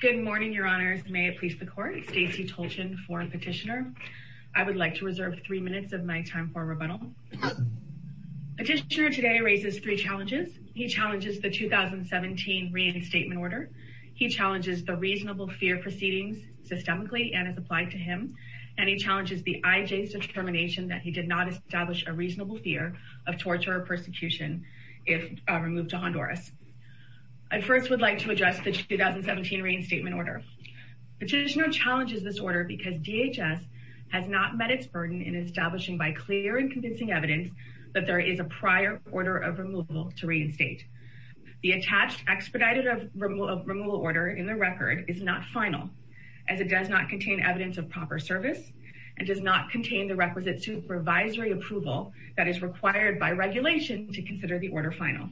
Good morning, your honors. May it please the court. Stacey Tolchin, foreign petitioner. I would like to reserve three minutes of my time for rebuttal. Petitioner today raises three challenges. He challenges the 2017 reinstatement order. He challenges the reasonable fear proceedings systemically and has applied to him. And he challenges the IJ's determination that he did not establish a reasonable fear of torture or persecution if removed to Honduras. I first would like to address the 2017 reinstatement order. Petitioner challenges this order because DHS has not met its burden in establishing by clear and convincing evidence that there is a prior order of removal to reinstate. The attached expedited removal order in the record is not final as it does not contain evidence of proper service and does not contain the requisite supervisory approval that is required by regulation to consider the order final.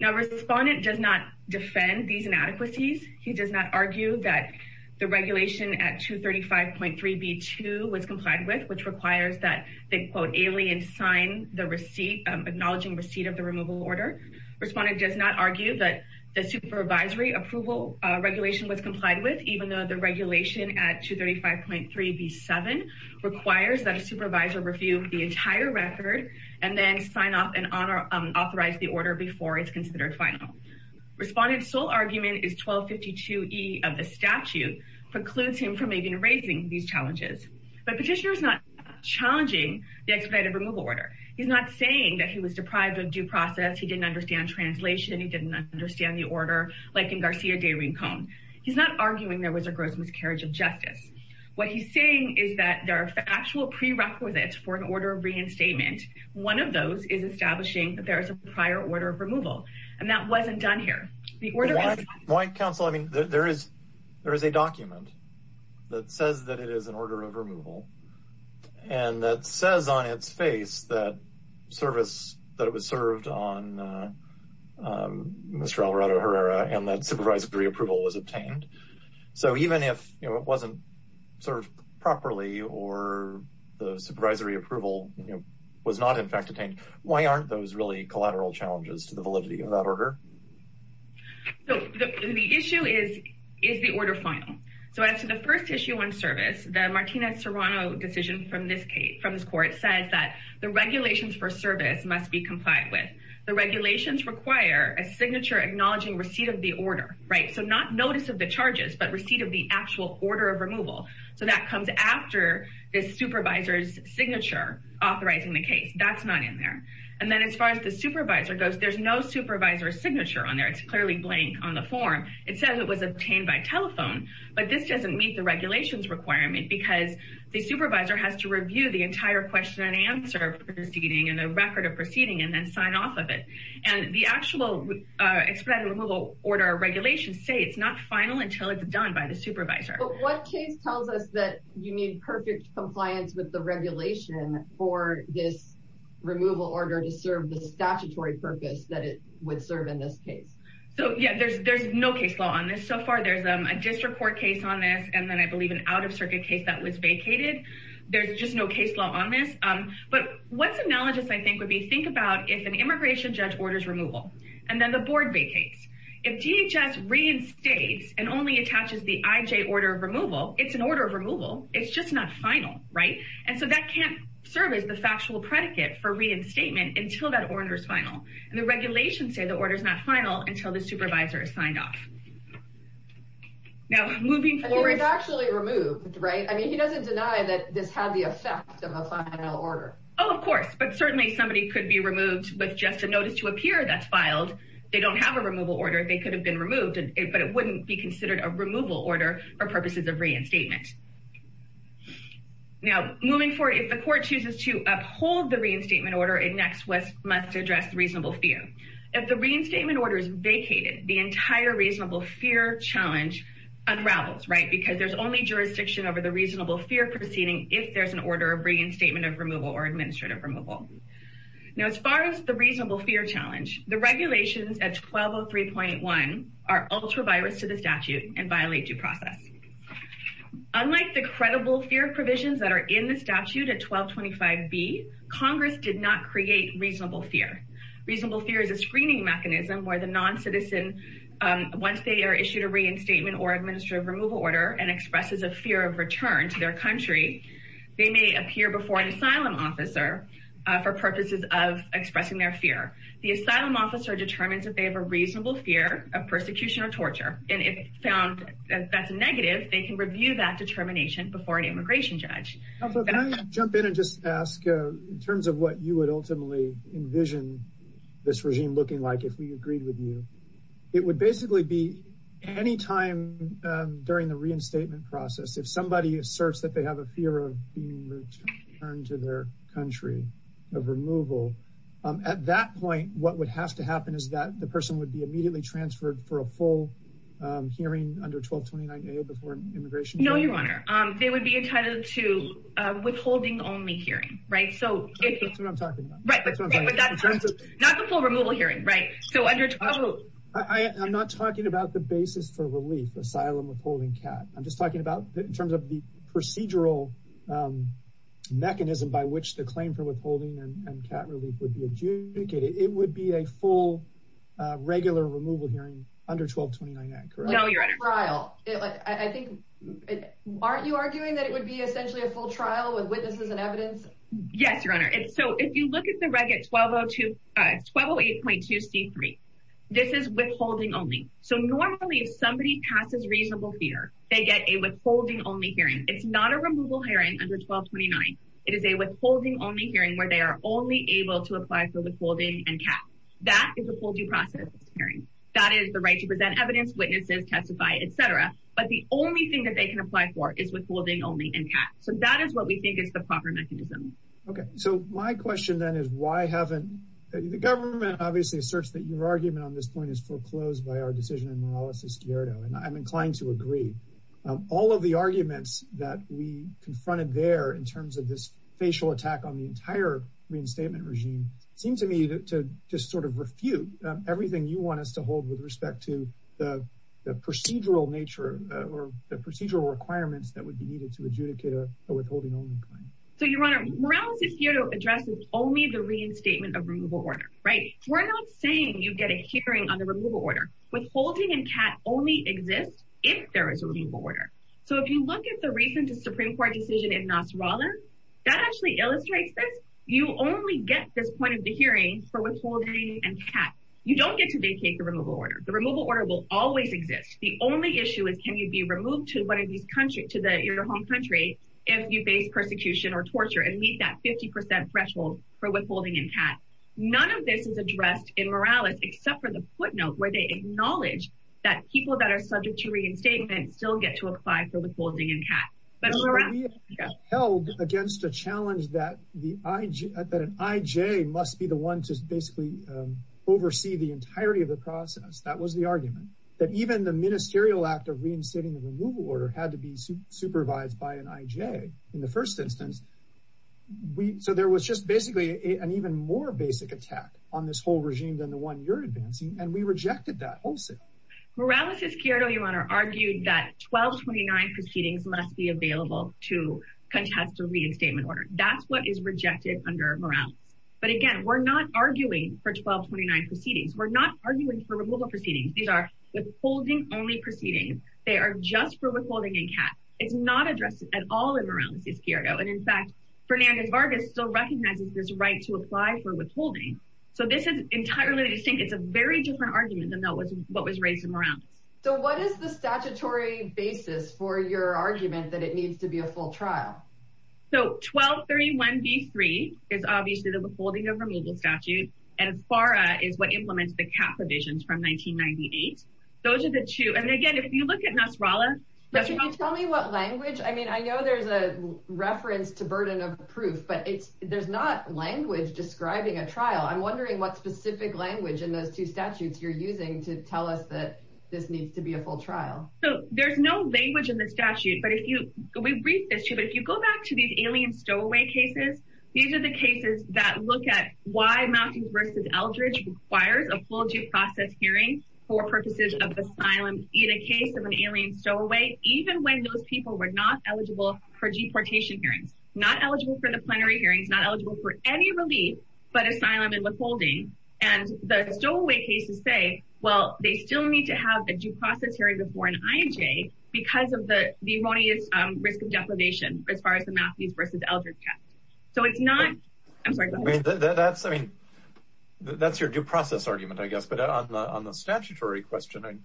Now, respondent does not defend these inadequacies. He does not argue that the regulation at 235.3b2 was complied with, which requires that the quote alien sign the receipt, acknowledging receipt of the removal order. Respondent does not argue that the supervisory approval regulation was complied with, even though the regulation at 235.3b7 requires that a supervisor review the entire record and then sign off and authorize the order before it's considered final. Respondent's sole argument is 1252e of the statute precludes him from even raising these challenges. But petitioner is not challenging the expedited removal order. He's not saying that he was deprived of due process, he didn't understand translation, he didn't understand the order like in Garcia de Rincon. He's not arguing there was a gross miscarriage of justice. What he's saying is that there are factual prerequisites for an order of reinstatement. One of those is establishing that there is a prior order of removal. And that wasn't done here. The order- Why counsel, I mean, there is a document that says that it is an order of removal. And that says on its face that service, that it was served on Mr. Alvarado Herrera and that supervisory approval was obtained. So even if it wasn't served properly or the supervisory approval was not in fact obtained, why aren't those really collateral challenges to the validity of that order? So the issue is, is the order final? So as to the first issue on service, the Martinez-Serrano decision from this case, from this court says that the regulations for service must be complied with. The regulations require a signature acknowledging receipt of the order, right? So not notice of the charges, but receipt of the actual order of removal. So that comes after the supervisor's signature authorizing the case. That's not in there. And then as far as the supervisor goes, there's no supervisor's signature on there. It's clearly blank on the form. It says it was obtained by telephone, but this doesn't meet the regulations requirement because the supervisor has to review the entire question and answer proceeding and the record of proceeding and then sign off of it. And the actual expedited removal order regulations say it's not final until it's done by the supervisor. But what case tells us that you need perfect compliance with the regulation for this removal order to serve the statutory purpose that it would serve in this case? So yeah, there's no case law on this so far. There's a district court case on this. And then I believe an out-of-circuit case that was vacated. There's just no case law on this. But what's analogous I think would be, think about if an immigration judge orders removal and then the board vacates. the IJ order of removal, it's an order of removal. It's just not final, right? And so that can't serve as the factual predicate for reinstatement until that order's final. And the regulations say the order's not final until the supervisor is signed off. Now, moving forward- Well, it's actually removed, right? I mean, he doesn't deny that this had the effect of a final order. Oh, of course, but certainly somebody could be removed with just a notice to appear that's filed. They don't have a removal order. They could have been removed, but it wouldn't be considered a removal order for purposes of reinstatement. Now, moving forward, if the court chooses to uphold the reinstatement order, it next must address reasonable fear. If the reinstatement order is vacated, the entire reasonable fear challenge unravels, right? Because there's only jurisdiction over the reasonable fear proceeding if there's an order of reinstatement of removal or administrative removal. Now, as far as the reasonable fear challenge, the regulations at 1203.1 are ultra-virus to the statute and violate due process. Unlike the credible fear provisions that are in the statute at 1225B, Congress did not create reasonable fear. Reasonable fear is a screening mechanism where the non-citizen, once they are issued a reinstatement or administrative removal order and expresses a fear of return to their country, they may appear before an asylum officer for purposes of expressing their fear. The asylum officer determines that they have a reasonable fear of persecution or torture. And if found that that's negative, they can review that determination before an immigration judge. Also, can I jump in and just ask, in terms of what you would ultimately envision this regime looking like if we agreed with you, it would basically be any time during the reinstatement process, if somebody asserts that they have a fear of being returned to their country of removal, at that point, what would have to happen is that the person would be immediately transferred for a full hearing under 1229A before immigration? No, Your Honor, they would be entitled to a withholding only hearing, right? So if- That's what I'm talking about. Right, but not the full removal hearing, right? So under 12- I'm not talking about the basis for relief, asylum, withholding, CAT. I'm just talking about in terms of the procedural mechanism by which the claim for withholding and CAT relief would be adjudicated. It would be a full, regular removal hearing under 1229A, correct? No, Your Honor. Like a trial. I think, aren't you arguing that it would be essentially a full trial with witnesses and evidence? Yes, Your Honor. So if you look at the reg at 1208.2C3, this is withholding only. So normally, if somebody passes reasonable fear, they get a withholding only hearing. It's not a removal hearing under 1229. It is a withholding only hearing where they are only able to apply for withholding and CAT. That is a full due process hearing. That is the right to present evidence, witnesses, testify, et cetera. But the only thing that they can apply for is withholding only and CAT. So that is what we think is the proper mechanism. Okay, so my question then is why haven't- The government obviously asserts that your argument on this point is foreclosed by our decision in Morales-Esquerdo, and I'm inclined to agree. All of the arguments that we confronted there in terms of this facial attack on the entire reinstatement regime seem to me to just sort of refute everything you want us to hold with respect to the procedural nature or the procedural requirements that would be needed to adjudicate a withholding only claim. So, Your Honor, Morales-Esquerdo addresses only the reinstatement of removal order, right? We're not saying you get a hearing on the removal order. Withholding and CAT only exist if there is a removal order. So if you look at the recent Supreme Court decision in Nasrallah, that actually illustrates this. You only get this point of the hearing for withholding and CAT. You don't get to vacate the removal order. The removal order will always exist. The only issue is can you be removed to your home country if you face persecution or torture and meet that 50% threshold for withholding and CAT. None of this is addressed in Morales except for the footnote where they acknowledge that people that are subject to reinstatement still get to apply for withholding and CAT. But Morales- We held against a challenge that an IJ must be the one to basically oversee the entirety of the process. That was the argument. That even the ministerial act of reinstating the removal order had to be supervised by an IJ in the first instance. So there was just basically an even more basic attack on this whole regime than the one you're advancing. And we rejected that also. Morales-Esquerdo, Your Honor, argued that 1229 proceedings must be available to contest a reinstatement order. That's what is rejected under Morales. But again, we're not arguing for 1229 proceedings. We're not arguing for removal proceedings. These are withholding only proceedings. They are just for withholding and CAT. It's not addressed at all in Morales-Esquerdo. And in fact, Fernandez-Vargas still recognizes this right to apply for withholding. So this is entirely distinct. It's a very different argument than what was raised in Morales. So what is the statutory basis for your argument that it needs to be a full trial? So 1231B3 is obviously the withholding of remedial statute. And FARA is what implements the CAT provisions from 1998. Those are the two. And again, if you look at Nasrallah- But can you tell me what language? I mean, I know there's a reference to burden of proof, but there's not language describing a trial. I'm wondering what specific language in those two statutes you're using to tell us that this needs to be a full trial. So there's no language in the statute, but if you, we've briefed this too, but if you go back to these alien stowaway cases, these are the cases that look at why Mountings v. Eldridge requires a full due process hearing for purposes of asylum in a case of an alien stowaway, even when those people were not eligible for deportation hearings, not eligible for the plenary hearings, not eligible for any relief, but asylum and withholding. And the stowaway cases say, well, they still need to have a due process hearing before an IJ because of the erroneous risk of deprivation as far as the Mountings v. Eldridge test. So it's not, I'm sorry, go ahead. That's, I mean, that's your due process argument, I guess. But on the statutory question,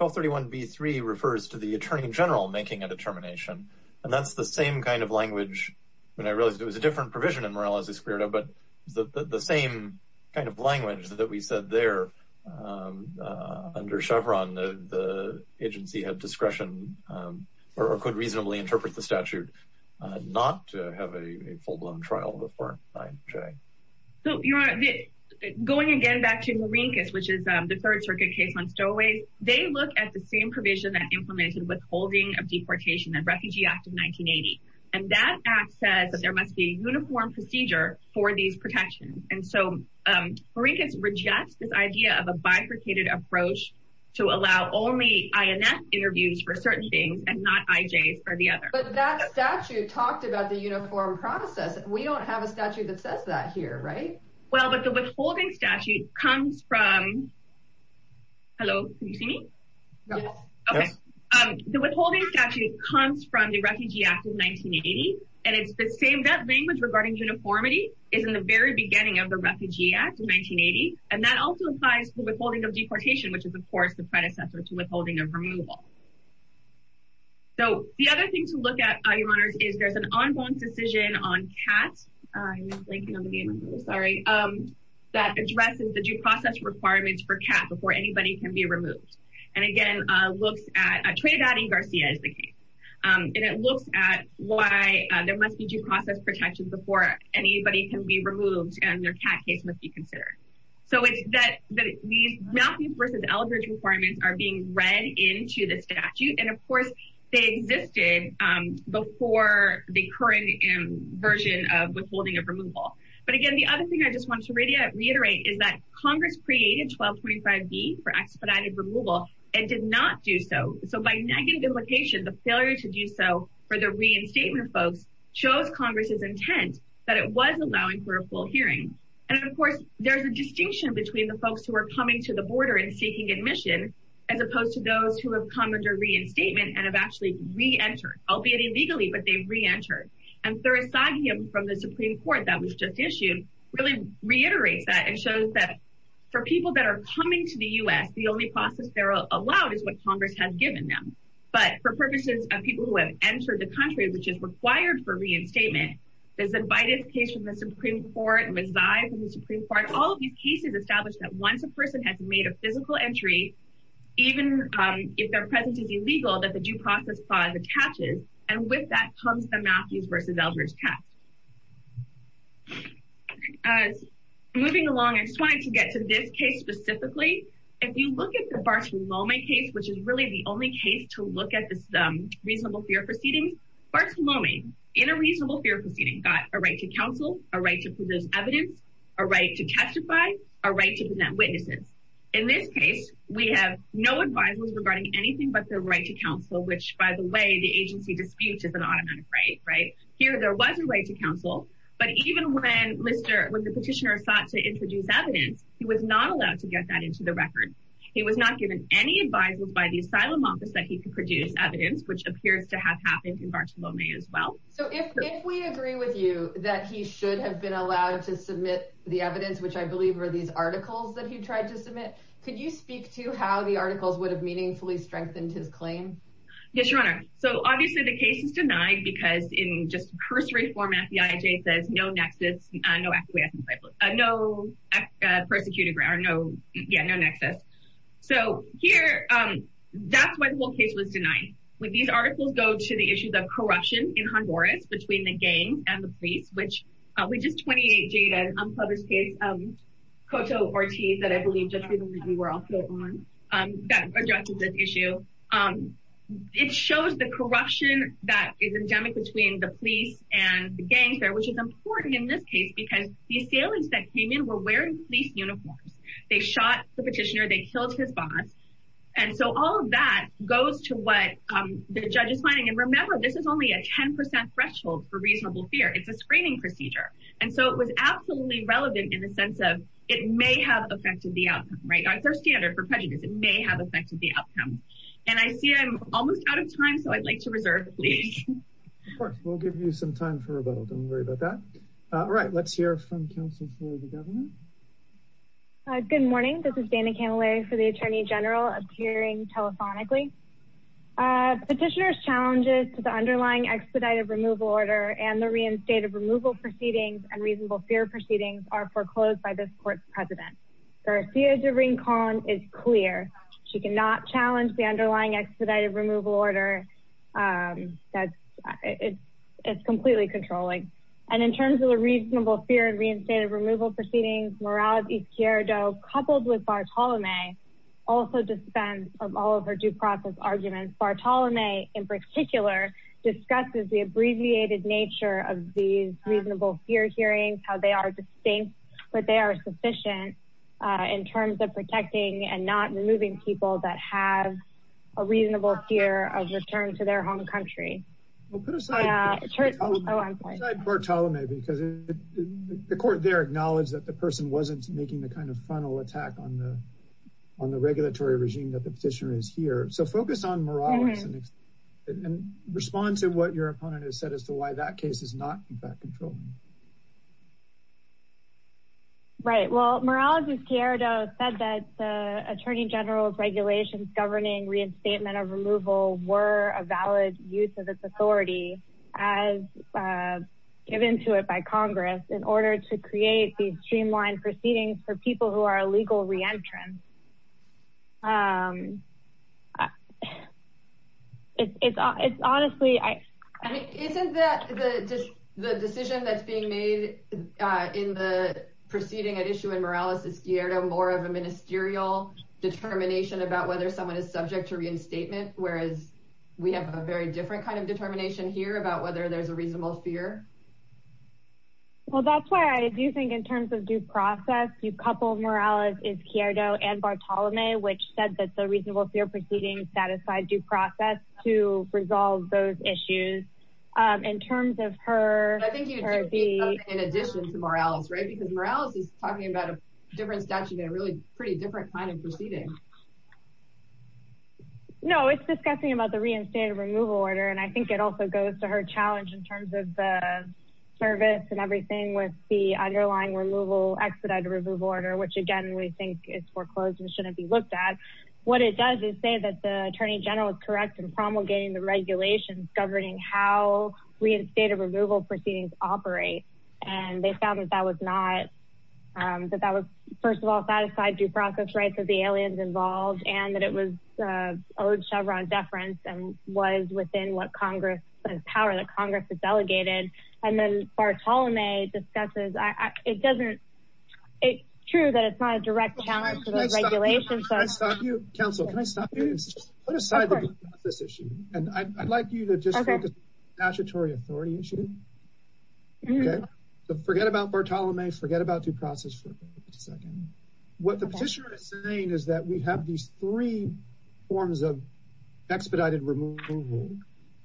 1231b3 refers to the attorney general making a determination. And that's the same kind of language. When I realized it was a different provision in Morales v. Spirida, but the same kind of language that we said there under Chevron, the agency had discretion or could reasonably interpret the statute not to have a full blown trial before an IJ. So Your Honor, going again back to Marinkis, which is the Third Circuit case on stowaways, they look at the same provision that implemented withholding of deportation, the Refugee Act of 1980. And that act says that there must be a uniform procedure for these protections. And so Marinkis rejects this idea of a bifurcated approach to allow only INF interviews for certain things and not IJs for the other. But that statute talked about the uniform process. We don't have a statute that says that here, right? Well, but the withholding statute comes from, hello, can you see me? No. Okay. The withholding statute comes from the Refugee Act of 1980. And it's the same, that language regarding uniformity is in the very beginning of the Refugee Act of 1980. And that also applies to withholding of deportation, which is of course the predecessor to withholding of removal. So the other thing to look at, Your Honors, is there's an ongoing decision on CAT, I'm blanking on the name, I'm really sorry, that addresses the due process requirements for CAT before anybody can be removed. And again, looks at, a trade-adding Garcia is the case. And it looks at why there must be due process protection before anybody can be removed and their CAT case must be considered. So it's that these Matthews versus Eldridge requirements are being read into the statute. And of course, they existed before the current version of withholding of removal. But again, the other thing I just want to reiterate is that Congress created 1225B for expedited removal and did not do so. So by negative implication, the failure to do so for the reinstatement folks shows Congress's intent that it was allowing for a full hearing. And of course, there's a distinction between the folks who are coming to the border and seeking admission, as opposed to those who have come under reinstatement and have actually re-entered, albeit illegally, but they've re-entered. And Thurasagian from the Supreme Court that was just issued, really reiterates that and shows that for people that are coming to the US, the only process they're allowed is what Congress has given them. But for purposes of people who have entered the country, which is required for reinstatement, the Zimbades case from the Supreme Court, Rezai from the Supreme Court, all of these cases established that once a person has made a physical entry, even if their presence is illegal, that the due process clause attaches. And with that comes the Matthews versus Eldridge test. Moving along, I just wanted to get to this case specifically. If you look at the Bartolome case, which is really the only case to look at this reasonable fear proceedings, Bartolome in a reasonable fear proceeding got a right to counsel, a right to produce evidence, a right to testify, a right to present witnesses. In this case, we have no advisers regarding anything but the right to counsel, which by the way, the agency disputes is an automatic right, right? Here, there was a right to counsel, but even when the petitioner sought to introduce evidence, he was not allowed to get that into the record. He was not given any advisers by the asylum office that he could produce evidence, which appears to have happened in Bartolome as well. So if we agree with you that he should have been allowed to submit the evidence, which I believe are these articles that he tried to submit, could you speak to how the articles would have meaningfully strengthened his claim? Yes, Your Honor. So obviously the case is denied because in just cursory format, the FBIJ says no nexus, no persecuted or no, yeah, no nexus. So here, that's why the whole case was denied. When these articles go to the issues of corruption in Honduras between the gang and the police, which is 28 Jada and unpublished case, Coto Ortiz that I believe just recently we were also on, that addresses this issue. It shows the corruption that is endemic between the police and the gangs there, which is important in this case because these aliens that came in were wearing police uniforms. They shot the petitioner, they killed his boss. And so all of that goes to what the judge is finding. And remember, this is only a 10% threshold for reasonable fear. It's a screening procedure. And so it was absolutely relevant in the sense of it may have affected the outcome, right? It's our standard for prejudice. It may have affected the outcome. And I see I'm almost out of time. So I'd like to reserve, please. Of course, we'll give you some time for rebuttal. Don't worry about that. Right, let's hear from counsel for the governor. Good morning. This is Dana Camilleri for the attorney general appearing telephonically. Petitioner's challenges to the underlying expedited removal order and the reinstated removal proceedings and reasonable fear proceedings are foreclosed by this court's president. Garcia Durin-Conn is clear. She cannot challenge the underlying expedited removal order. It's completely controlling. And in terms of the reasonable fear and reinstated removal proceedings, Morales-Izquierdo coupled with Bartolome also dispense of all of her due process arguments. Bartolome in particular, discusses the abbreviated nature of these reasonable fear hearings, how they are distinct, but they are sufficient in terms of protecting and not removing people that have a reasonable fear of return to their home country. Well, put aside Bartolome because the court there acknowledged that the person wasn't making the kind of frontal attack on the regulatory regime that the petitioner is here. So focus on Morales and respond to what your opponent has said as to why that case is not in fact controlling. Right, well, Morales-Izquierdo said that the attorney general's regulations governing reinstatement of removal were a valid use of its authority as given to it by Congress in order to create these streamlined proceedings for people who are illegal re-entrants. It's honestly, I- I mean, isn't that the decision that's being made in the proceeding at issue in Morales-Izquierdo more of a ministerial determination about whether someone is subject to reinstatement, whereas we have a very different kind of determination here about whether there's a reasonable fear? Well, that's why I do think in terms of due process, you couple Morales-Izquierdo and Bartolome, which said that the reasonable fear proceedings satisfied due process to resolve those issues. In terms of her- I think you need something in addition to Morales, right? Because Morales is talking about a different statute and a really pretty different kind of proceeding. No, it's discussing about the reinstated removal order. And I think it also goes to her challenge in terms of the service and everything with the underlying removal, expedited removal order, which again, we think is foreclosed and shouldn't be looked at. What it does is say that the attorney general is correct in promulgating the regulations governing how reinstated removal proceedings operate. And they found that that was not, that that was first of all, satisfied due process rights of the aliens involved and that it was owed Chevron deference and was within what Congress has power, that Congress has delegated. And then Bartolome discusses, it doesn't, it's true that it's not a direct challenge to those regulations. Can I stop you? Counsel, can I stop you? Put aside the due process issue. And I'd like you to just focus on the statutory authority issue. So forget about Bartolome, forget about due process for a second. What the petitioner is saying is that we have these three forms of expedited removal,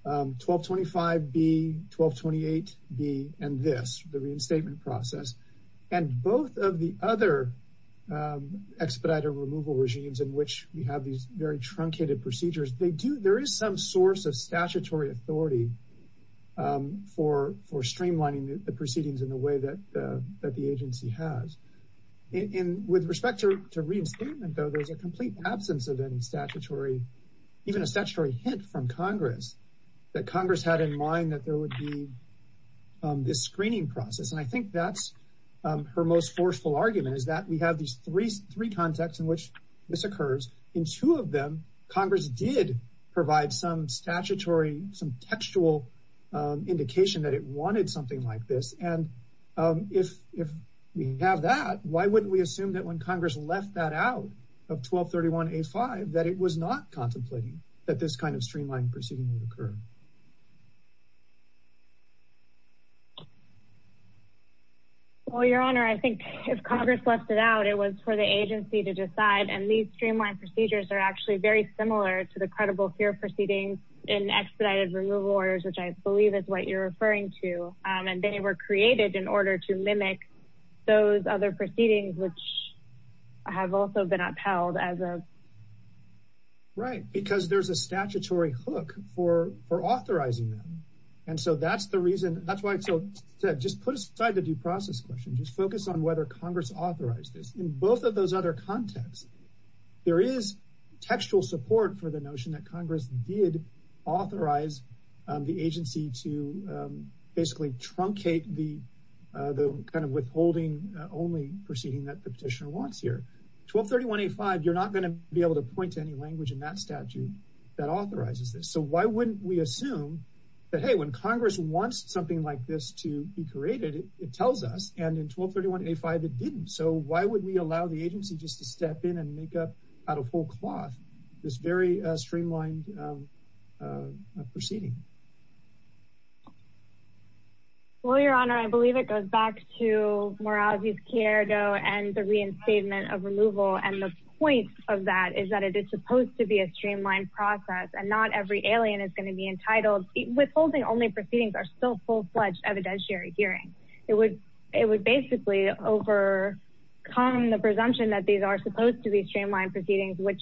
1225B, 1228B, and this, the reinstatement process. And both of the other expedited removal regimes in which we have these very truncated procedures, they do, there is some source of statutory authority for streamlining the proceedings in the way that the agency has. And with respect to reinstatement though, there's a complete absence of any statutory, even a statutory hint from Congress that Congress had in mind that there would be this screening process. And I think that's her most forceful argument is that we have these three contexts in which this occurs. In two of them, Congress did provide some statutory, some textual indication that it wanted something like this. And if we have that, why wouldn't we assume that when Congress left that out of 1231A5, that it was not contemplating that this kind of streamlined proceeding would occur? Well, your honor, I think if Congress left it out, it was for the agency to decide. And these streamlined procedures are actually very similar to the credible fear proceedings in expedited removal orders, which I believe is what you're referring to. And they were created in order to mimic those other proceedings, which have also been upheld as a- Right, because there's a statutory hook for authorizing them. And so that's the reason, that's why I said, just put aside the due process question, just focus on whether Congress authorized this. In both of those other contexts, there is textual support for the notion that Congress did authorize the agency to basically truncate the kind of withholding only proceeding that the petitioner wants here. 1231A5, you're not gonna be able to point to any language in that statute that authorizes this. So why wouldn't we assume that, hey, when Congress wants something like this to be created, it tells us, and in 1231A5, it didn't. So why would we allow the agency just to step in and make up out of whole cloth this very streamlined proceeding? Well, Your Honor, I believe it goes back to Morales' Cierdo and the reinstatement of removal. And the point of that is that it is supposed to be a streamlined process, and not every alien is gonna be entitled. Withholding only proceedings are still full-fledged evidentiary hearings. It would basically overcome the presumption that these are supposed to be streamlined proceedings, which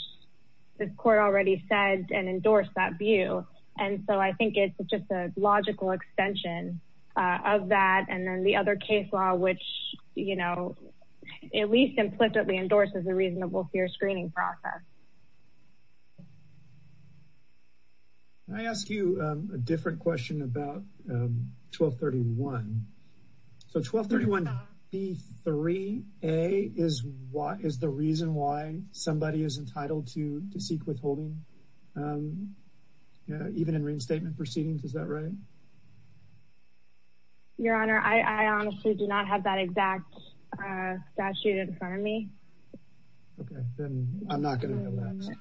this court already said and endorsed that view. And so I think it's just a logical extension of that. And then the other case law, which at least implicitly endorses a reasonable fair screening process. I ask you a different question about 1231. So 1231B3A is the reason why somebody is entitled to seek withholding? Even in reinstatement proceedings, is that right? Your Honor, I honestly do not have that exact statute in front of me. Okay, then I'm not gonna know that.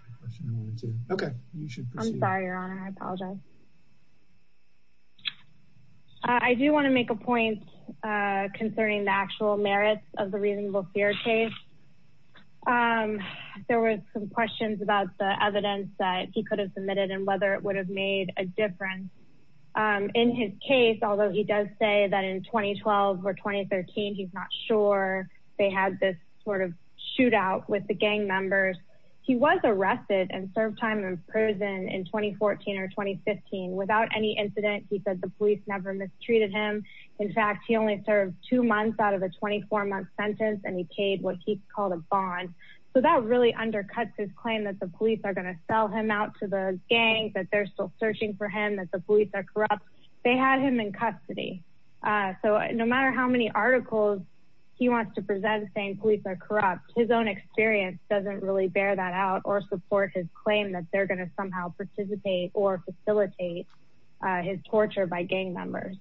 Okay, you should proceed. I'm sorry, Your Honor, I apologize. I do wanna make a point concerning the actual merits of the reasonable fair case. There were some questions about the evidence that he could have submitted and whether it would have made a difference. In his case, although he does say that in 2012 or 2013, he's not sure they had this sort of shootout with the gang members, he was arrested and served time in prison in 2014 or 2015. Without any incident, he said the police never mistreated him. In fact, he only served two months out of a 24-month sentence and he paid what he called a bond. So that really undercuts his claim that the police are gonna sell him out to the gang, that they're still searching for him, that the police are corrupt. They had him in custody. So no matter how many articles he wants to present saying police are corrupt, his own experience doesn't really bear that out or support his claim that they're gonna somehow participate or facilitate his torture by gang members.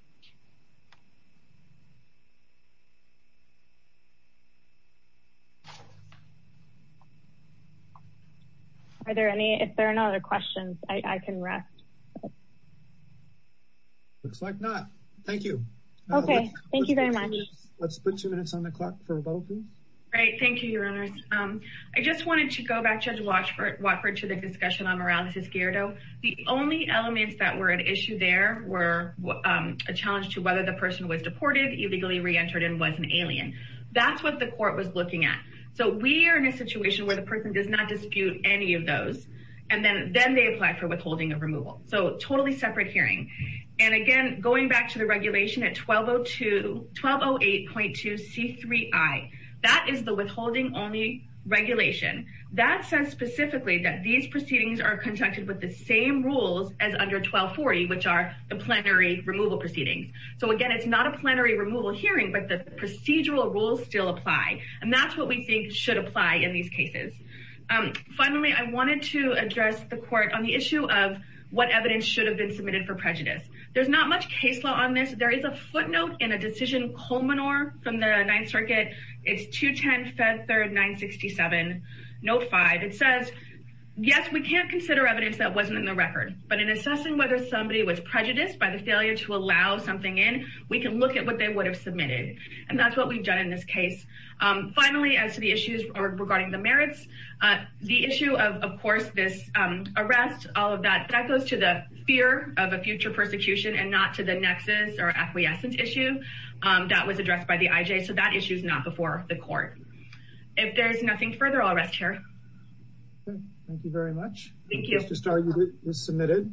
Are there any, if there are no other questions, I can rest. Looks like not, thank you. Okay, thank you very much. Let's put two minutes on the clock for both of you. Great, thank you, your honors. I just wanted to go back, Judge Watford, to the discussion on moralities, Gerardo. The only elements that were at issue there were a challenge to whether the person was deported, illegally re-entered and was an alien. That's what the court was looking at. So we are in a situation where the person does not dispute any of those, and then they apply for withholding of removal. So totally separate hearing. And again, going back to the regulation at 1208.2C3I, that is the withholding only regulation. That says specifically that these proceedings are conducted with the same rules as under 1240, which are the plenary removal proceedings. So again, it's not a plenary removal hearing, but the procedural rules still apply. And that's what we think should apply in these cases. Finally, I wanted to address the court on the issue of what evidence should have been submitted for prejudice. There's not much case law on this. There is a footnote in a decision culminor from the Ninth Circuit. It's 210-Fed3-967, note five. It says, yes, we can't consider evidence that wasn't in the record, but in assessing whether somebody was prejudiced by the failure to allow something in, we can look at what they would have submitted. And that's what we've done in this case. Finally, as to the issues regarding the merits, the issue of, of course, this arrest, all of that, that goes to the fear of a future persecution and not to the nexus or acquiescence issue that was addressed by the IJ. So that issue is not before the court. If there's nothing further, I'll rest here. Okay, thank you very much. Thank you. Thank you, Mr. Starr, you've been submitted.